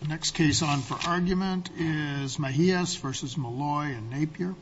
The next case on for argument is Mejias v. Malloy and Napier.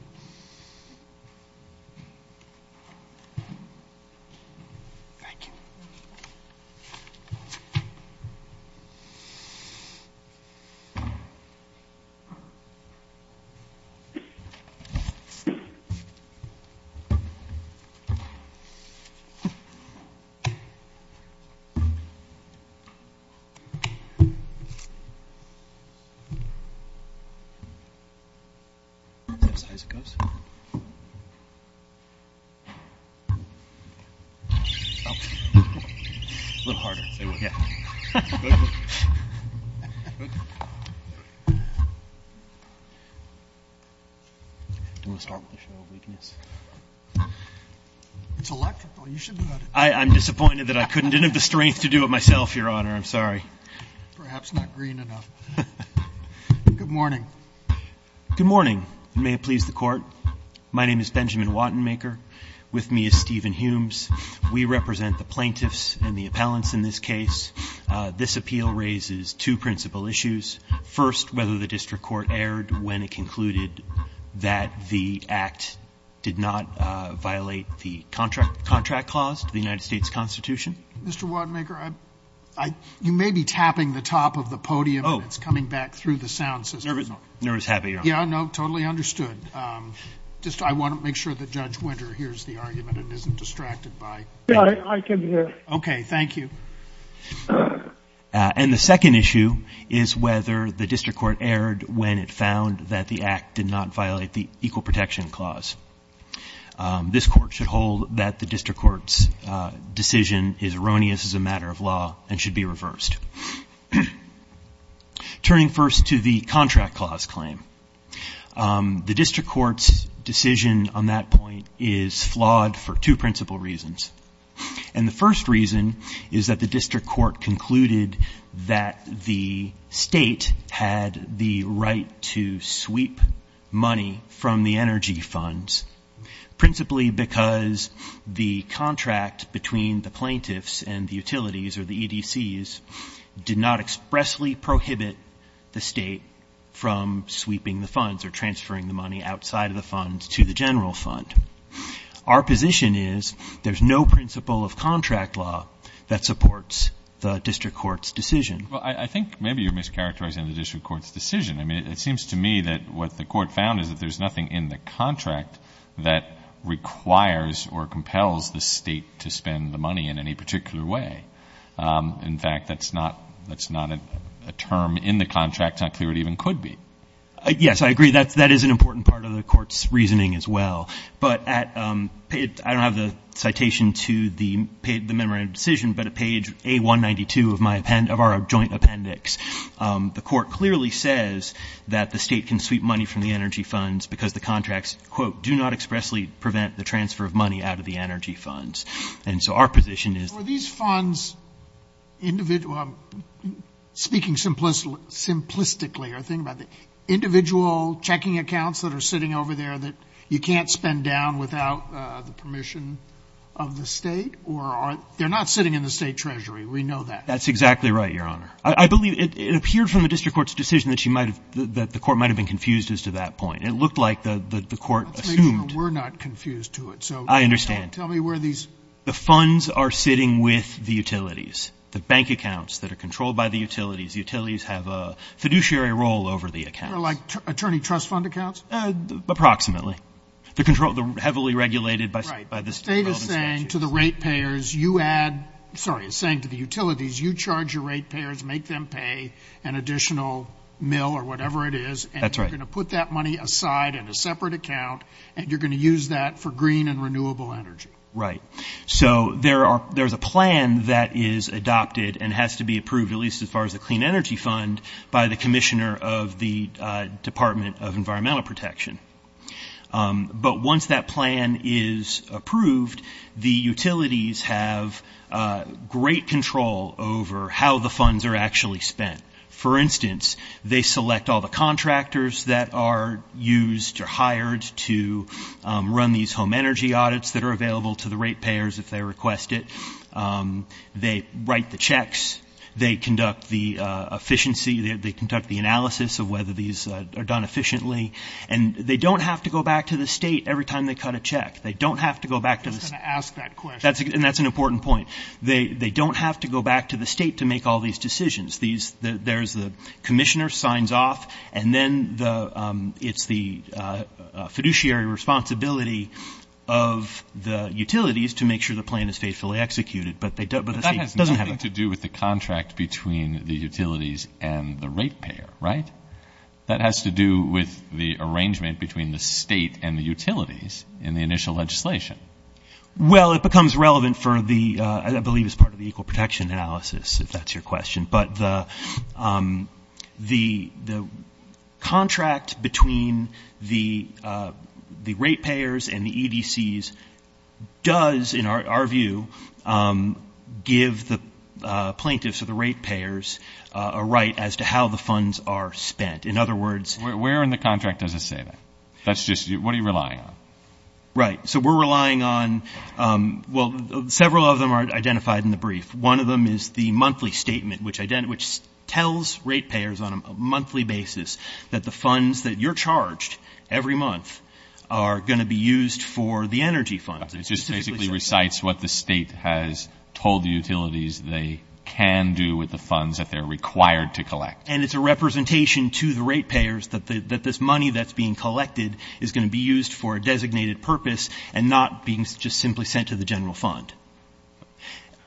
I'm disappointed that I didn't have the strength to do it myself, Your Honor. I'm sorry. Perhaps not green enough. Good morning. Good morning, and may it please the Court. My name is Benjamin Wattenmaker. With me is Stephen Humes. We represent the plaintiffs and the appellants in this case. This appeal raises two principal issues. First, whether the district court erred when it concluded that the act did not violate the contract clause to the United States Constitution. Mr. Wattenmaker, you may be tapping the top of the podium. Oh. It's coming back through the sound system. Nervous habit, Your Honor. Yeah, no, totally understood. Just I want to make sure that Judge Winter hears the argument and isn't distracted by it. Yeah, I can hear. Okay, thank you. And the second issue is whether the district court erred when it found that the act did not violate the equal protection clause. This court should hold that the district court's decision is erroneous as a matter of law and should be reversed. Turning first to the contract clause claim, the district court's decision on that point is flawed for two principal reasons. And the first reason is that the district court concluded that the state had the right to sweep money from the energy funds, principally because the contract between the plaintiffs and the utilities, or the EDCs, did not expressly prohibit the state from sweeping the funds or transferring the money outside of the funds to the general fund. Our position is there's no principle of contract law that supports the district court's decision. Well, I think maybe you're mischaracterizing the district court's decision. I mean, it seems to me that what the court found is that there's nothing in the contract that requires or compels the state to spend the money in any particular way. In fact, that's not a term in the contract. It's not clear it even could be. Yes, I agree. That is an important part of the court's reasoning as well. But I don't have the citation to the memorandum of decision, but at page A192 of our joint appendix, the court clearly says that the state can sweep money from the energy funds because the contracts, quote, do not expressly prevent the transfer of money out of the energy funds. And so our position is these funds, speaking simplistically, or think about the individual checking accounts that are sitting over there that you can't spend down without the permission of the state or are they're not sitting in the state treasury. We know that. That's exactly right, Your Honor. I believe it appeared from the district court's decision that you might have, that the court might have been confused as to that point. It looked like the court assumed. We're not confused to it. I understand. Tell me where these. The funds are sitting with the utilities, the bank accounts that are controlled by the utilities. Utilities have a fiduciary role over the accounts. They're like attorney trust fund accounts? Approximately. They're heavily regulated by the relevant statutes. Right. The state is saying to the rate payers you add, sorry, it's saying to the utilities you charge your rate payers, make them pay an additional mill or whatever it is. That's right. And you're going to put that money aside in a separate account, and you're going to use that for green and renewable energy. Right. So there's a plan that is adopted and has to be approved, at least as far as the clean energy fund, by the commissioner of the Department of Environmental Protection. But once that plan is approved, the utilities have great control over how the funds are actually spent. For instance, they select all the contractors that are used or hired to run these home energy audits that are available to the rate payers if they request it. They write the checks. They conduct the efficiency. They conduct the analysis of whether these are done efficiently. And they don't have to go back to the state every time they cut a check. They don't have to go back to the state. I was going to ask that question. And that's an important point. They don't have to go back to the state to make all these decisions. There's the commissioner, signs off, and then it's the fiduciary responsibility of the utilities to make sure the plan is faithfully executed. But the state doesn't have it. That has nothing to do with the contract between the utilities and the rate payer, right? That has to do with the arrangement between the state and the utilities in the initial legislation. Well, it becomes relevant for the, I believe it's part of the equal protection analysis, if that's your question. But the contract between the rate payers and the EDCs does, in our view, give the plaintiffs or the rate payers a right as to how the funds are spent. In other words. Where in the contract does it say that? That's just, what are you relying on? Right. So we're relying on, well, several of them are identified in the brief. One of them is the monthly statement, which tells rate payers on a monthly basis that the funds that you're charged every month are going to be used for the energy funds. It just basically recites what the state has told the utilities they can do with the funds that they're required to collect. And it's a representation to the rate payers that this money that's being collected is going to be used for a designated purpose and not being just simply sent to the general fund.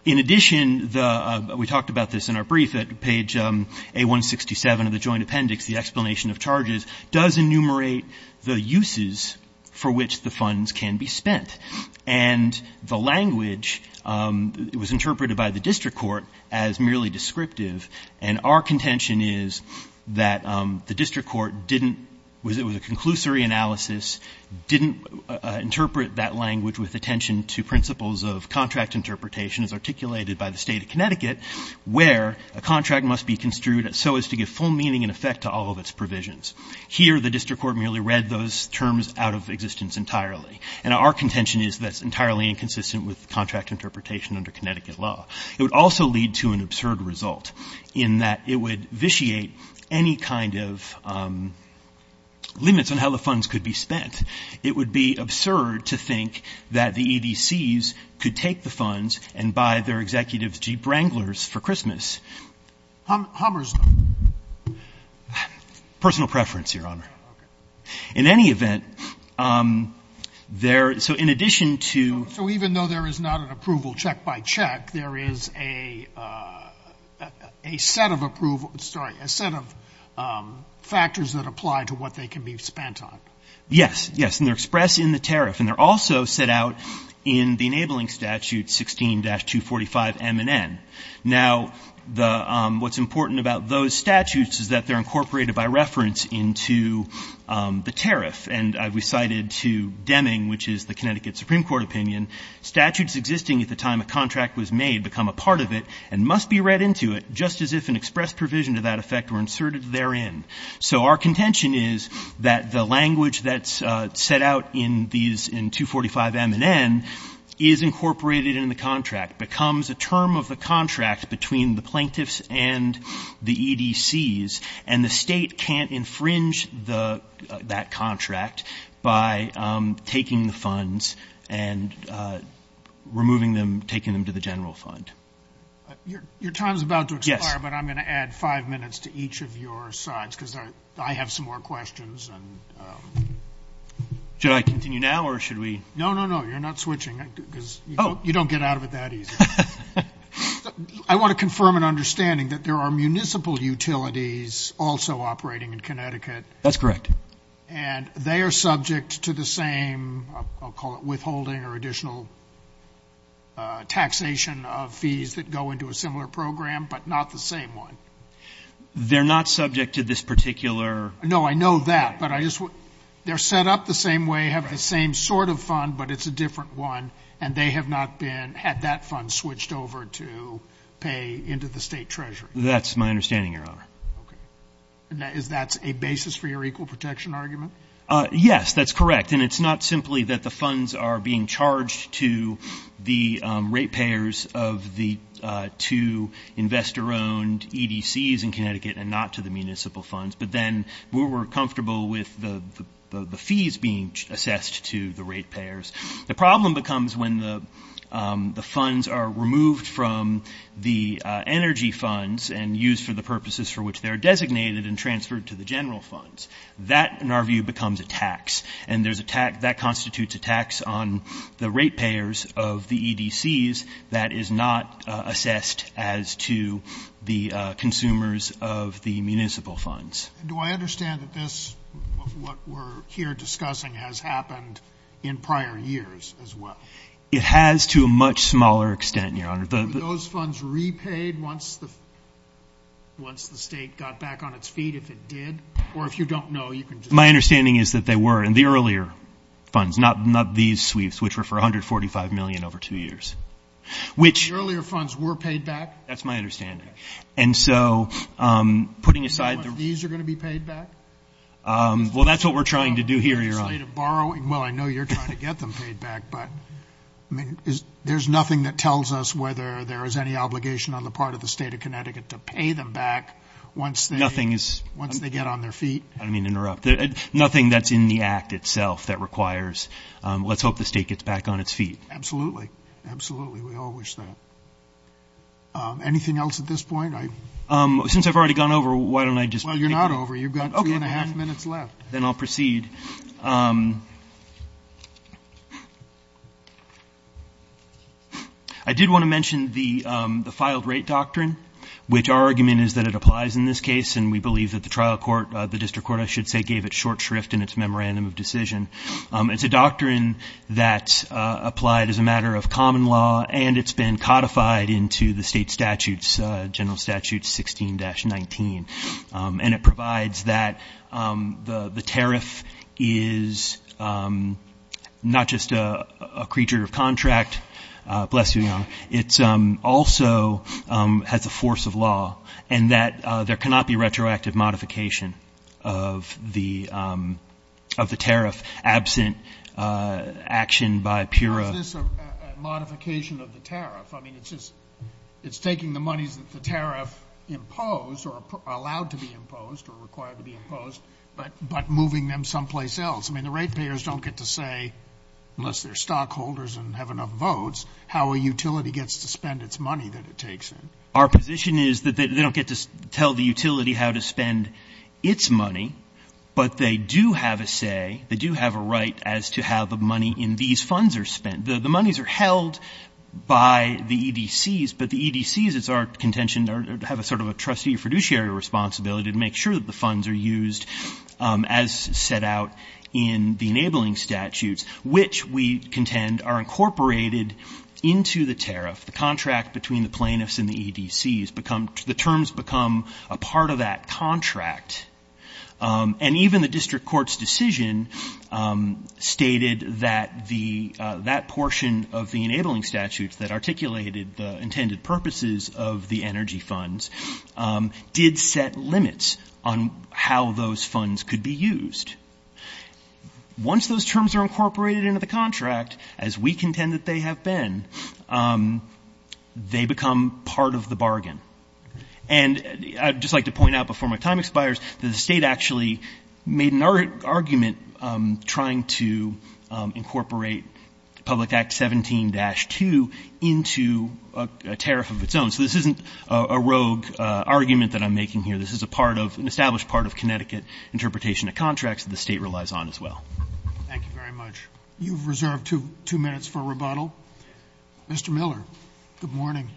In addition, the, we talked about this in our brief at page A-167 of the joint appendix, the explanation of charges, does enumerate the uses for which the funds can be spent. And the language was interpreted by the district court as merely descriptive. And our contention is that the district court didn't, it was a conclusory analysis, didn't interpret that language with attention to principles of contract interpretation as articulated by the State of Connecticut where a contract must be construed so as to give full meaning and effect to all of its provisions. Here, the district court merely read those terms out of existence entirely. And our contention is that's entirely inconsistent with contract interpretation under Connecticut law. It would also lead to an absurd result in that it would vitiate any kind of limits on how the funds could be spent. It would be absurd to think that the EDCs could take the funds and buy their executives Jeep Wranglers for Christmas. Hummers them. Personal preference, Your Honor. Okay. In any event, there, so in addition to. So even though there is not an approval check by check, there is a set of approval, sorry, a set of factors that apply to what they can be spent on. Yes, yes. And they're expressed in the tariff. And they're also set out in the enabling statute 16-245 M and N. Now, what's important about those statutes is that they're incorporated by reference into the tariff. And I've recited to Deming, which is the Connecticut Supreme Court opinion, statutes existing at the time a contract was made become a part of it and must be read into it, just as if an express provision to that effect were inserted therein. So our contention is that the language that's set out in these, in 245 M and N, is incorporated in the contract, becomes a term of the contract between the plaintiffs and the EDCs, and the state can't infringe that contract by taking the funds and removing them, taking them to the general fund. Yes. But I'm going to add five minutes to each of your sides because I have some more questions. Should I continue now or should we? No, no, no. You're not switching because you don't get out of it that easy. I want to confirm an understanding that there are municipal utilities also operating in Connecticut. That's correct. And they are subject to the same, I'll call it withholding or additional taxation of fees that go into a similar program, but not the same one. They're not subject to this particular? No, I know that. But I just want, they're set up the same way, have the same sort of fund, but it's a different one, and they have not been, had that fund switched over to pay into the state treasury. That's my understanding, Your Honor. Okay. Is that a basis for your equal protection argument? Yes, that's correct. And it's not simply that the funds are being charged to the rate payers of the two investor-owned EDCs in Connecticut and not to the municipal funds, but then we're comfortable with the fees being assessed to the rate payers. The problem becomes when the funds are removed from the energy funds and used for the purposes for which they're designated and transferred to the general funds. That, in our view, becomes a tax. And there's a tax, that constitutes a tax on the rate payers of the EDCs that is not assessed as to the consumers of the municipal funds. Do I understand that this, what we're here discussing, has happened in prior years as well? It has to a much smaller extent, Your Honor. Were those funds repaid once the state got back on its feet, if it did? Or if you don't know, you can just say. My understanding is that they were in the earlier funds, not these sweeps, which were for $145 million over two years. The earlier funds were paid back? That's my understanding. Okay. And so, putting aside the- Do you know if these are going to be paid back? Well, that's what we're trying to do here, Your Honor. Well, I know you're trying to get them paid back, but there's nothing that tells us whether there is any obligation on the part of the State of Connecticut to pay them back once they- Nothing is- Once they get on their feet. I don't mean to interrupt. Nothing that's in the act itself that requires, let's hope the state gets back on its feet. Absolutely. Absolutely. We all wish that. Anything else at this point? Since I've already gone over, why don't I just- Well, you're not over. You've got two and a half minutes left. Then I'll proceed. I did want to mention the filed rate doctrine, which our argument is that it applies in this case, and we believe that the trial court, the district court, I should say, gave it short shrift in its memorandum of decision. It's a doctrine that's applied as a matter of common law, and it's been codified into the state statutes, General Statute 16-19. And it provides that the tariff is not just a creature of contract. Bless you, Your Honor. It also has a force of law, and that there cannot be retroactive modification of the tariff absent action by pure- How is this a modification of the tariff? I mean, it's just it's taking the monies that the tariff imposed or allowed to be imposed or required to be imposed, but moving them someplace else. I mean, the rate payers don't get to say, unless they're stockholders and have enough votes, how a utility gets to spend its money that it takes in. Our position is that they don't get to tell the utility how to spend its money, but they do have a say, they do have a right as to how the money in these funds are spent. The monies are held by the EDCs, but the EDCs, it's our contention, have a sort of a trustee fiduciary responsibility to make sure that the funds are used as set out in the enabling statutes, which we contend are incorporated into the tariff. The contract between the plaintiffs and the EDCs become the terms become a part of that contract. And even the district court's decision stated that that portion of the enabling statutes that articulated the intended purposes of the energy funds did set limits on how those funds could be used. Once those terms are incorporated into the contract, as we contend that they have been, they become part of the bargain. And I'd just like to point out before my time expires that the State actually made an argument trying to incorporate Public Act 17-2 into a tariff of its own. So this isn't a rogue argument that I'm making here. This is a part of, an established part of Connecticut interpretation of contracts that the State relies on as well. Thank you very much. You've reserved two minutes for rebuttal. Mr. Miller, good morning.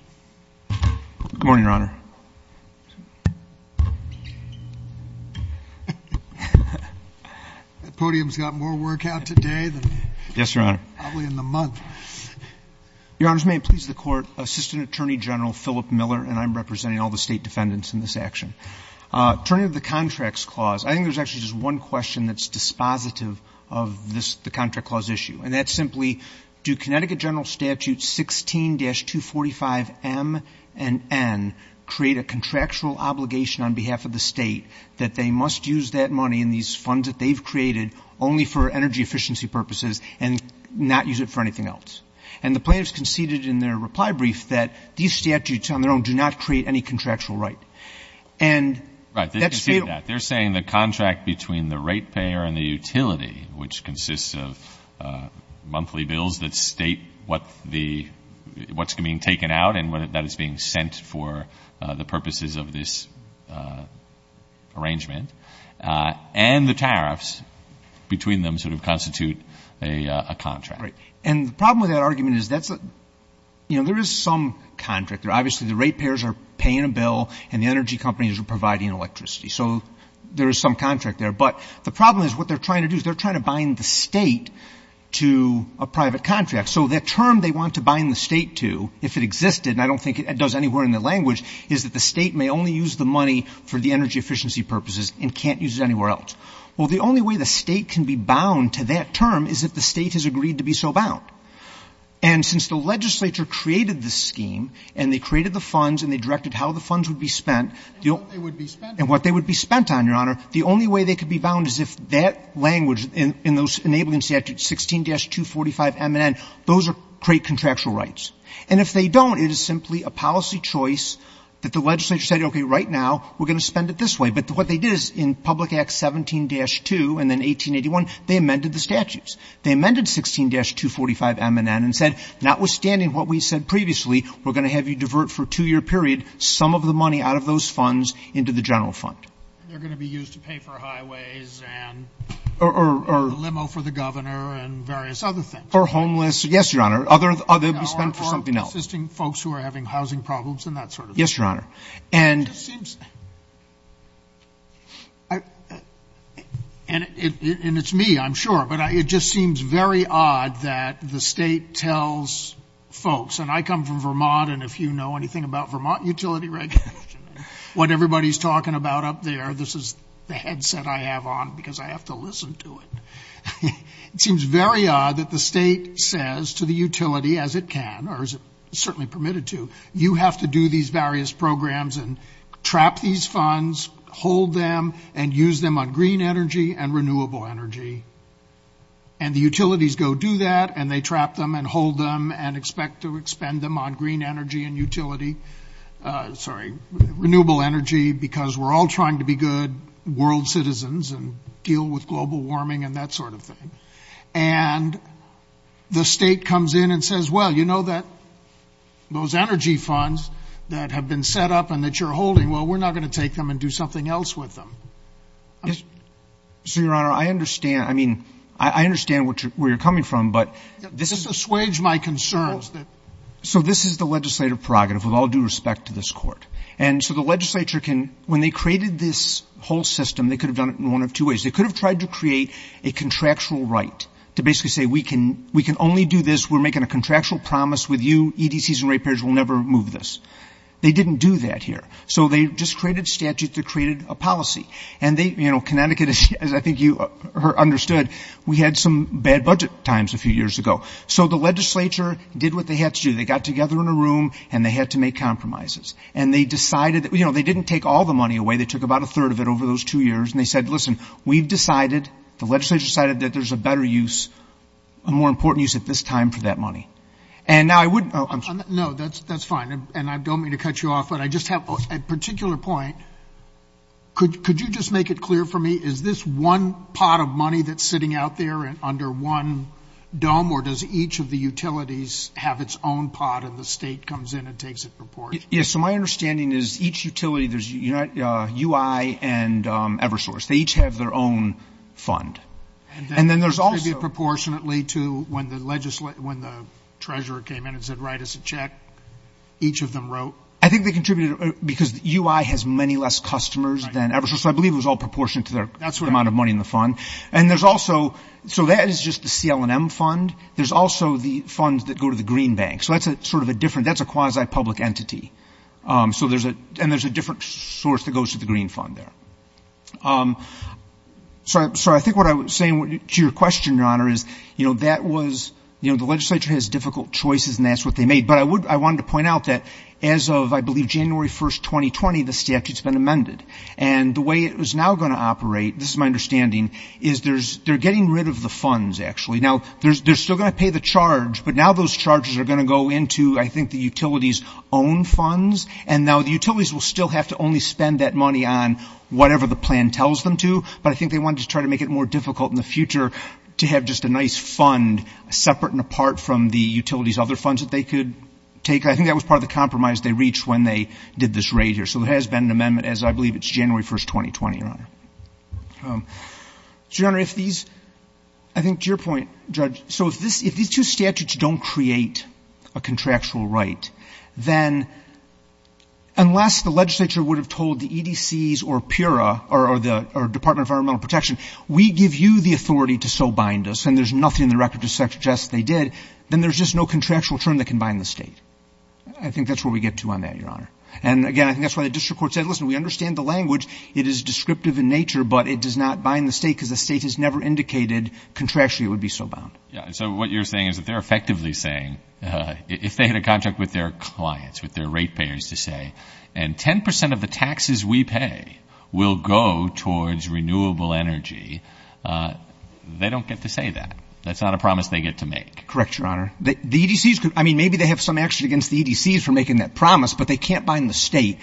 Good morning, Your Honor. That podium's got more work out today than probably in the month. Yes, Your Honor. Your Honors, may it please the Court, Assistant Attorney General Philip Miller, and I'm representing all the State defendants in this action. Turning to the Contracts Clause, I think there's actually just one question that's dispositive of this, And that's simply, do Connecticut General Statutes 16-245M and N create a contractual obligation on behalf of the State that they must use that money in these funds that they've created only for energy efficiency purposes and not use it for anything else? And the plaintiffs conceded in their reply brief that these statutes on their own do not create any contractual right. And that's real. They're saying the contract between the rate payer and the utility, which consists of monthly bills that state what's being taken out and that it's being sent for the purposes of this arrangement, and the tariffs between them sort of constitute a contract. Right. And the problem with that argument is there is some contract. Obviously, the rate payers are paying a bill and the energy companies are providing electricity. So there is some contract there. But the problem is what they're trying to do is they're trying to bind the State to a private contract. So that term they want to bind the State to, if it existed, and I don't think it does anywhere in the language, is that the State may only use the money for the energy efficiency purposes and can't use it anywhere else. Well, the only way the State can be bound to that term is if the State has agreed to be so bound. And since the legislature created the scheme and they created the funds and they directed how the funds would be spent and what they would be spent on, Your Honor, the only way they could be bound is if that language in those enabling statutes, 16-245 M and N, those create contractual rights. And if they don't, it is simply a policy choice that the legislature said, okay, right now we're going to spend it this way. But what they did is in Public Act 17-2 and then 1881, they amended the statutes. They amended 16-245 M and N and said, notwithstanding what we said previously, we're going to have you divert for a two-year period some of the money out of those funds into the general fund. And they're going to be used to pay for highways and the limo for the governor and various other things. Or homeless. Yes, Your Honor. Other will be spent for something else. Or assisting folks who are having housing problems and that sort of thing. Yes, Your Honor. It just seems, and it's me, I'm sure, but it just seems very odd that the state tells folks, and I come from Vermont, and if you know anything about Vermont utility regulation, what everybody's talking about up there, this is the headset I have on because I have to listen to it. It seems very odd that the state says to the utility, as it can, or as it's certainly permitted to, you have to do these various programs and trap these funds, hold them, and use them on green energy and renewable energy. And the utilities go do that, and they trap them and hold them and expect to expend them on green energy and utility. Sorry, renewable energy because we're all trying to be good world citizens and deal with global warming and that sort of thing. And the state comes in and says, well, you know that those energy funds that have been set up and that you're holding, well, we're not going to take them and do something else with them. Yes, so, Your Honor, I understand. I mean, I understand where you're coming from, but this is. Just assuage my concerns that. So this is the legislative prerogative with all due respect to this court. And so the legislature can, when they created this whole system, they could have done it in one of two ways. They could have tried to create a contractual right to basically say we can only do this. We're making a contractual promise with you. EDCs and ratepayers will never move this. They didn't do that here. So they just created statutes. They created a policy. And, you know, Connecticut, as I think you understood, we had some bad budget times a few years ago. So the legislature did what they had to do. They got together in a room, and they had to make compromises. And they decided that, you know, they didn't take all the money away. They took about a third of it over those two years. And they said, listen, we've decided, the legislature decided, that there's a better use, a more important use at this time for that money. And now I wouldn't – No, that's fine. And I don't mean to cut you off, but I just have a particular point. Could you just make it clear for me, is this one pot of money that's sitting out there under one dome, or does each of the utilities have its own pot and the state comes in and takes it in proportion? Yeah, so my understanding is each utility, there's UI and Eversource. They each have their own fund. And then there's also – And that contributed proportionately to when the treasurer came in and said, write us a check, each of them wrote? I think they contributed because UI has many less customers than Eversource. So I believe it was all proportionate to the amount of money in the fund. And there's also – so that is just the CL&M fund. There's also the funds that go to the Green Bank. So that's sort of a different – that's a quasi-public entity. So there's a – and there's a different source that goes to the Green Fund there. So I think what I was saying to your question, Your Honor, is, you know, that was – you know, the legislature has difficult choices, and that's what they made. But I wanted to point out that as of, I believe, January 1, 2020, the statute's been amended. And the way it is now going to operate, this is my understanding, is they're getting rid of the funds, actually. Now, they're still going to pay the charge, but now those charges are going to go into, I think, the utilities' own funds. And now the utilities will still have to only spend that money on whatever the plan tells them to. But I think they wanted to try to make it more difficult in the future to have just a nice fund separate and apart from the utilities' other funds that they could take. I think that was part of the compromise they reached when they did this raid here. So there has been an amendment, as I believe it's January 1, 2020, Your Honor. So, Your Honor, if these – I think to your point, Judge, so if these two statutes don't create a contractual right, then unless the legislature would have told the EDCs or PURA or the Department of Environmental Protection, we give you the authority to so bind us, and there's nothing in the record to suggest they did, then there's just no contractual term that can bind the State. I think that's where we get to on that, Your Honor. And, again, I think that's why the district court said, listen, we understand the language. It is descriptive in nature, but it does not bind the State because the State has never indicated, contrastually, it would be so bound. So what you're saying is that they're effectively saying, if they had a contract with their clients, with their rate payers to say, and 10 percent of the taxes we pay will go towards renewable energy, they don't get to say that. That's not a promise they get to make. Correct, Your Honor. The EDCs could – I mean, maybe they have some action against the EDCs for making that promise, but they can't bind the State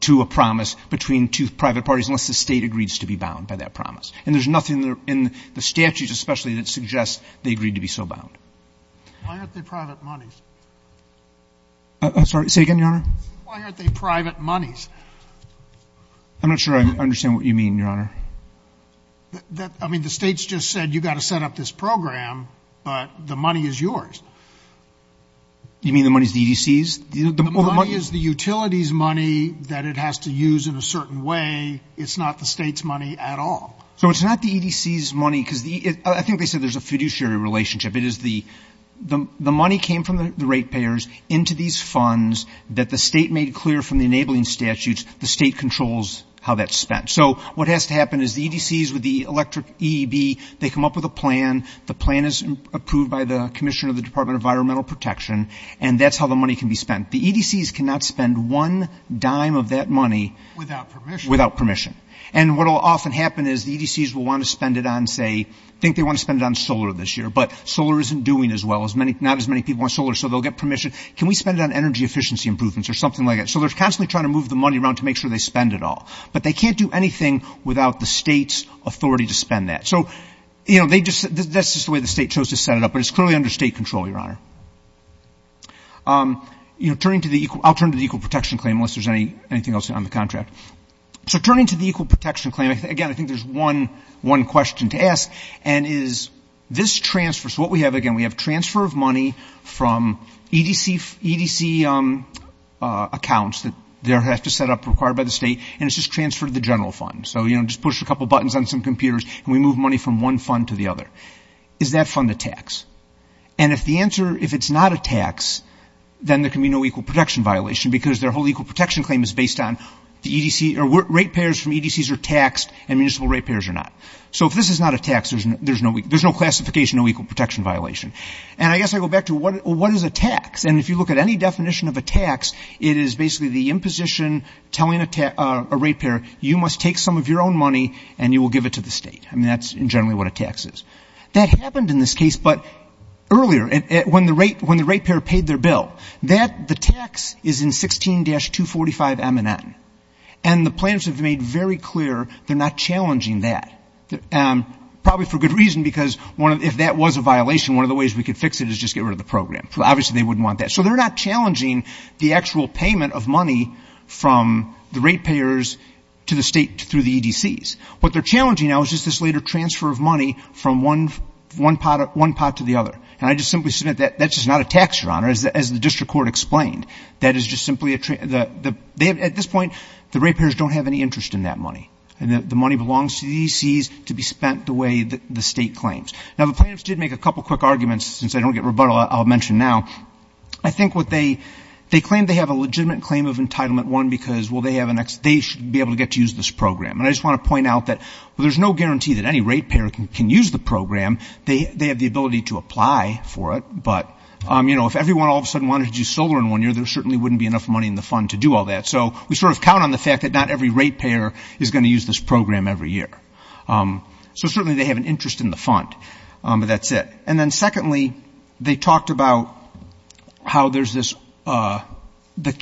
to a promise between two private parties unless the State agrees to be bound by that promise. And there's nothing in the statutes, especially, that suggests they agreed to be so bound. Why aren't they private monies? Say again, Your Honor? Why aren't they private monies? I'm not sure I understand what you mean, Your Honor. I mean, the State's just said you've got to set up this program, but the money is yours. You mean the money is the EDCs? The money is the utilities money that it has to use in a certain way. It's not the State's money at all. So it's not the EDCs money, because I think they said there's a fiduciary relationship. It is the money came from the rate payers into these funds that the State made clear from the enabling statutes, the State controls how that's spent. So what has to happen is the EDCs with the electric EEB, they come up with a plan. The plan is approved by the Commissioner of the Department of Environmental Protection, and that's how the money can be spent. The EDCs cannot spend one dime of that money without permission. And what will often happen is the EDCs will want to spend it on, say, I think they want to spend it on solar this year, but solar isn't doing as well. Not as many people want solar, so they'll get permission. Can we spend it on energy efficiency improvements or something like that? So they're constantly trying to move the money around to make sure they spend it all. But they can't do anything without the State's authority to spend that. So, you know, they just, that's just the way the State chose to set it up, but it's clearly under State control, Your Honor. You know, turning to the, I'll turn to the Equal Protection Claim unless there's anything else on the contract. So turning to the Equal Protection Claim, again, I think there's one question to ask, and is this transfer, so what we have, again, we have transfer of money from EDC accounts that they have to set up, required by the State, and it's just transfer to the general fund. So, you know, just push a couple buttons on some computers and we move money from one fund to the other. Is that fund a tax? And if the answer, if it's not a tax, then there can be no Equal Protection Violation because their whole Equal Protection Claim is based on the EDC, or rate payers from EDCs are taxed and municipal rate payers are not. So if this is not a tax, there's no classification, no Equal Protection Violation. And I guess I go back to what is a tax? And if you look at any definition of a tax, it is basically the imposition telling a rate payer, you must take some of your own money and you will give it to the State. I mean, that's generally what a tax is. That happened in this case, but earlier, when the rate payer paid their bill, that, the tax is in 16-245 M&N. And the planners have made very clear they're not challenging that, probably for good reason, because if that was a violation, one of the ways we could fix it is just get rid of the program. Obviously, they wouldn't want that. So they're not challenging the actual payment of money from the rate payers to the State through the EDCs. What they're challenging now is just this later transfer of money from one pot to the other. And I just simply submit that that's just not a tax, Your Honor, as the district court explained. That is just simply a, at this point, the rate payers don't have any interest in that money. And the money belongs to the EDCs to be spent the way the State claims. Now, the planners did make a couple quick arguments, since I don't get rebuttal, I'll mention now. I think what they, they claim they have a legitimate claim of entitlement, one, because, well, they have an, they should be able to get to use this program. And I just want to point out that, well, there's no guarantee that any rate payer can use the program. They have the ability to apply for it. But, you know, if everyone all of a sudden wanted to do solar in one year, there certainly wouldn't be enough money in the fund to do all that. So we sort of count on the fact that not every rate payer is going to use this program every year. So certainly they have an interest in the fund, but that's it. And then secondly, they talked about how there's this, the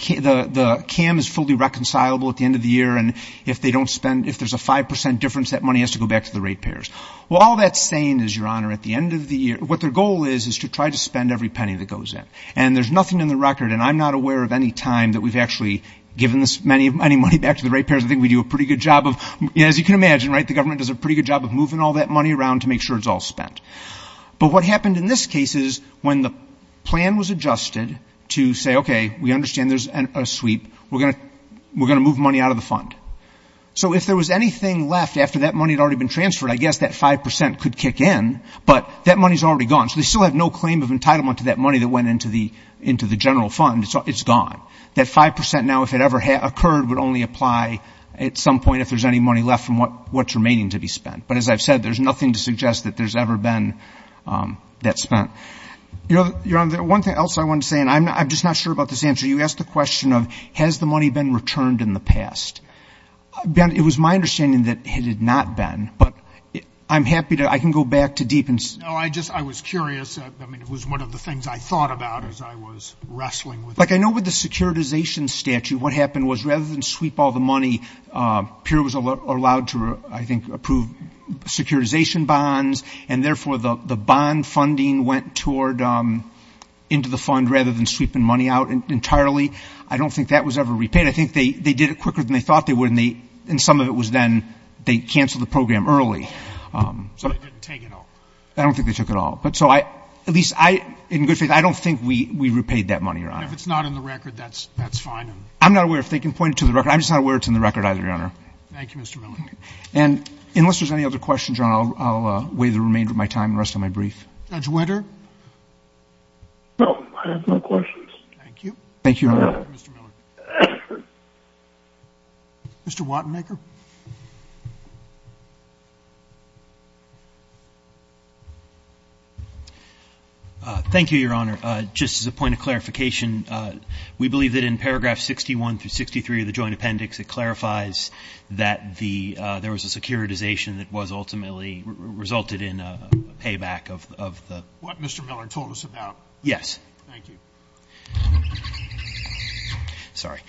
CAM is fully reconcilable at the end of the year, and if they don't spend, if there's a 5% difference, that money has to go back to the rate payers. Well, all that's saying is, Your Honor, at the end of the year, what their goal is is to try to spend every penny that goes in. And there's nothing in the record, and I'm not aware of any time that we've actually given any money back to the rate payers. I think we do a pretty good job of, as you can imagine, right, the government does a pretty good job of moving all that money around to make sure it's all spent. But what happened in this case is when the plan was adjusted to say, okay, we understand there's a sweep, we're going to move money out of the fund. So if there was anything left after that money had already been transferred, I guess that 5% could kick in, but that money's already gone. So they still have no claim of entitlement to that money that went into the general fund. It's gone. That 5% now, if it ever occurred, would only apply at some point if there's any money left from what's remaining to be spent. But as I've said, there's nothing to suggest that there's ever been that spent. Your Honor, one thing else I wanted to say, and I'm just not sure about this answer, you asked the question of has the money been returned in the past. Ben, it was my understanding that it had not been, but I'm happy to, I can go back to deep and see. No, I just, I was curious. I mean, it was one of the things I thought about as I was wrestling with it. Like I know with the securitization statute, what happened was rather than sweep all the money, PURE was allowed to, I think, approve securitization bonds, and therefore the bond funding went toward, into the fund rather than sweeping money out entirely. I don't think that was ever repaid. I think they did it quicker than they thought they would, and some of it was then they canceled the program early. So they didn't take it all. I don't think they took it all. But so I, at least I, in good faith, I don't think we repaid that money, Your Honor. If it's not in the record, that's fine. I'm not aware if they can point it to the record. I'm just not aware it's in the record either, Your Honor. Thank you, Mr. Miller. And unless there's any other questions, Your Honor, I'll wait the remainder of my time and rest on my brief. Judge Winter? No, I have no questions. Thank you. Thank you, Your Honor. Mr. Miller. Mr. Wattenegger? Thank you, Your Honor. Just as a point of clarification, we believe that in paragraph 61 through 63 of the joint appendix, it clarifies that there was a securitization that was ultimately resulted in a payback of the ---- What Mr. Miller told us about. Yes. Thank you. Sorry.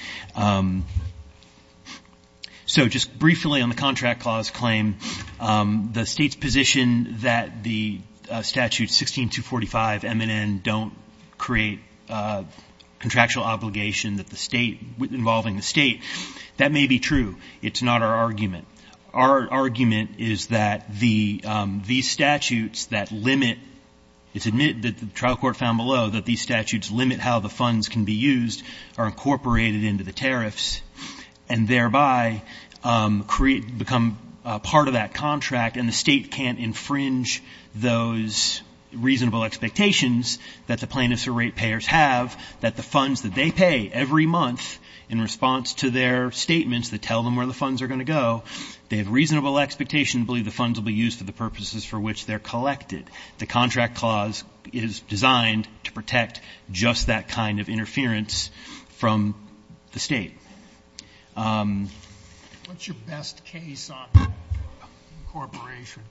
So just briefly on the contract clause claim, the State's position that the statute 16245 MNN don't create contractual obligation involving the State, that may be true. It's not our argument. Our argument is that these statutes that limit ---- and thereby become part of that contract, and the State can't infringe those reasonable expectations that the plaintiffs or rate payers have, that the funds that they pay every month in response to their statements that tell them where the funds are going to go, they have reasonable expectation to believe the funds will be used for the purposes for which they're collected. The contract clause is designed to protect just that kind of interference from the State. What's your best case on incorporation?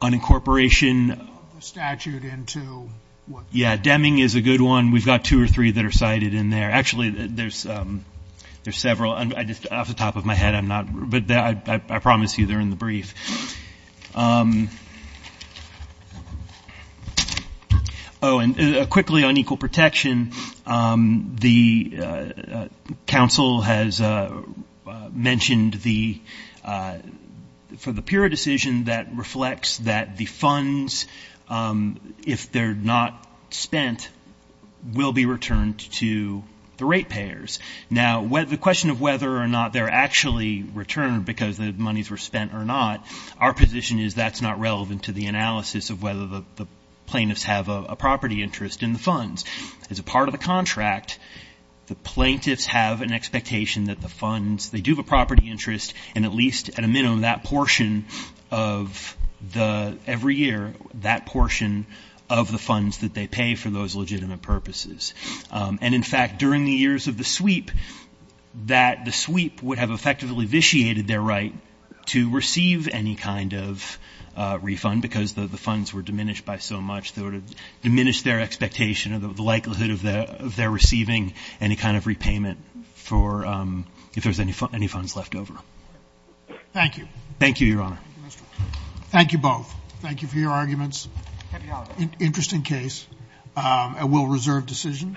On incorporation? The statute into what? Yes. Deming is a good one. We've got two or three that are cited in there. Actually, there's several. Just off the top of my head, I'm not ---- but I promise you they're in the brief. Oh, and quickly on equal protection, the counsel has mentioned the ---- for the purer decision that reflects that the funds, if they're not spent, will be returned to the rate payers. Now, the question of whether or not they're actually returned because the monies were spent or not, our position is that's not relevant to the analysis of whether the plaintiffs have a property interest in the funds. As a part of the contract, the plaintiffs have an expectation that the funds, they do have a property interest, and at least at a minimum, that portion of the ---- every year, that portion of the funds that they pay for those legitimate purposes. And, in fact, during the years of the sweep, that the sweep would have effectively vitiated their right to receive any kind of refund because the funds were diminished by so much, diminished their expectation of the likelihood of their receiving any kind of repayment for ---- if there's any funds left over. Thank you. Thank you, Your Honor. Thank you, both. Thank you for your arguments. Interesting case. We'll reserve decision.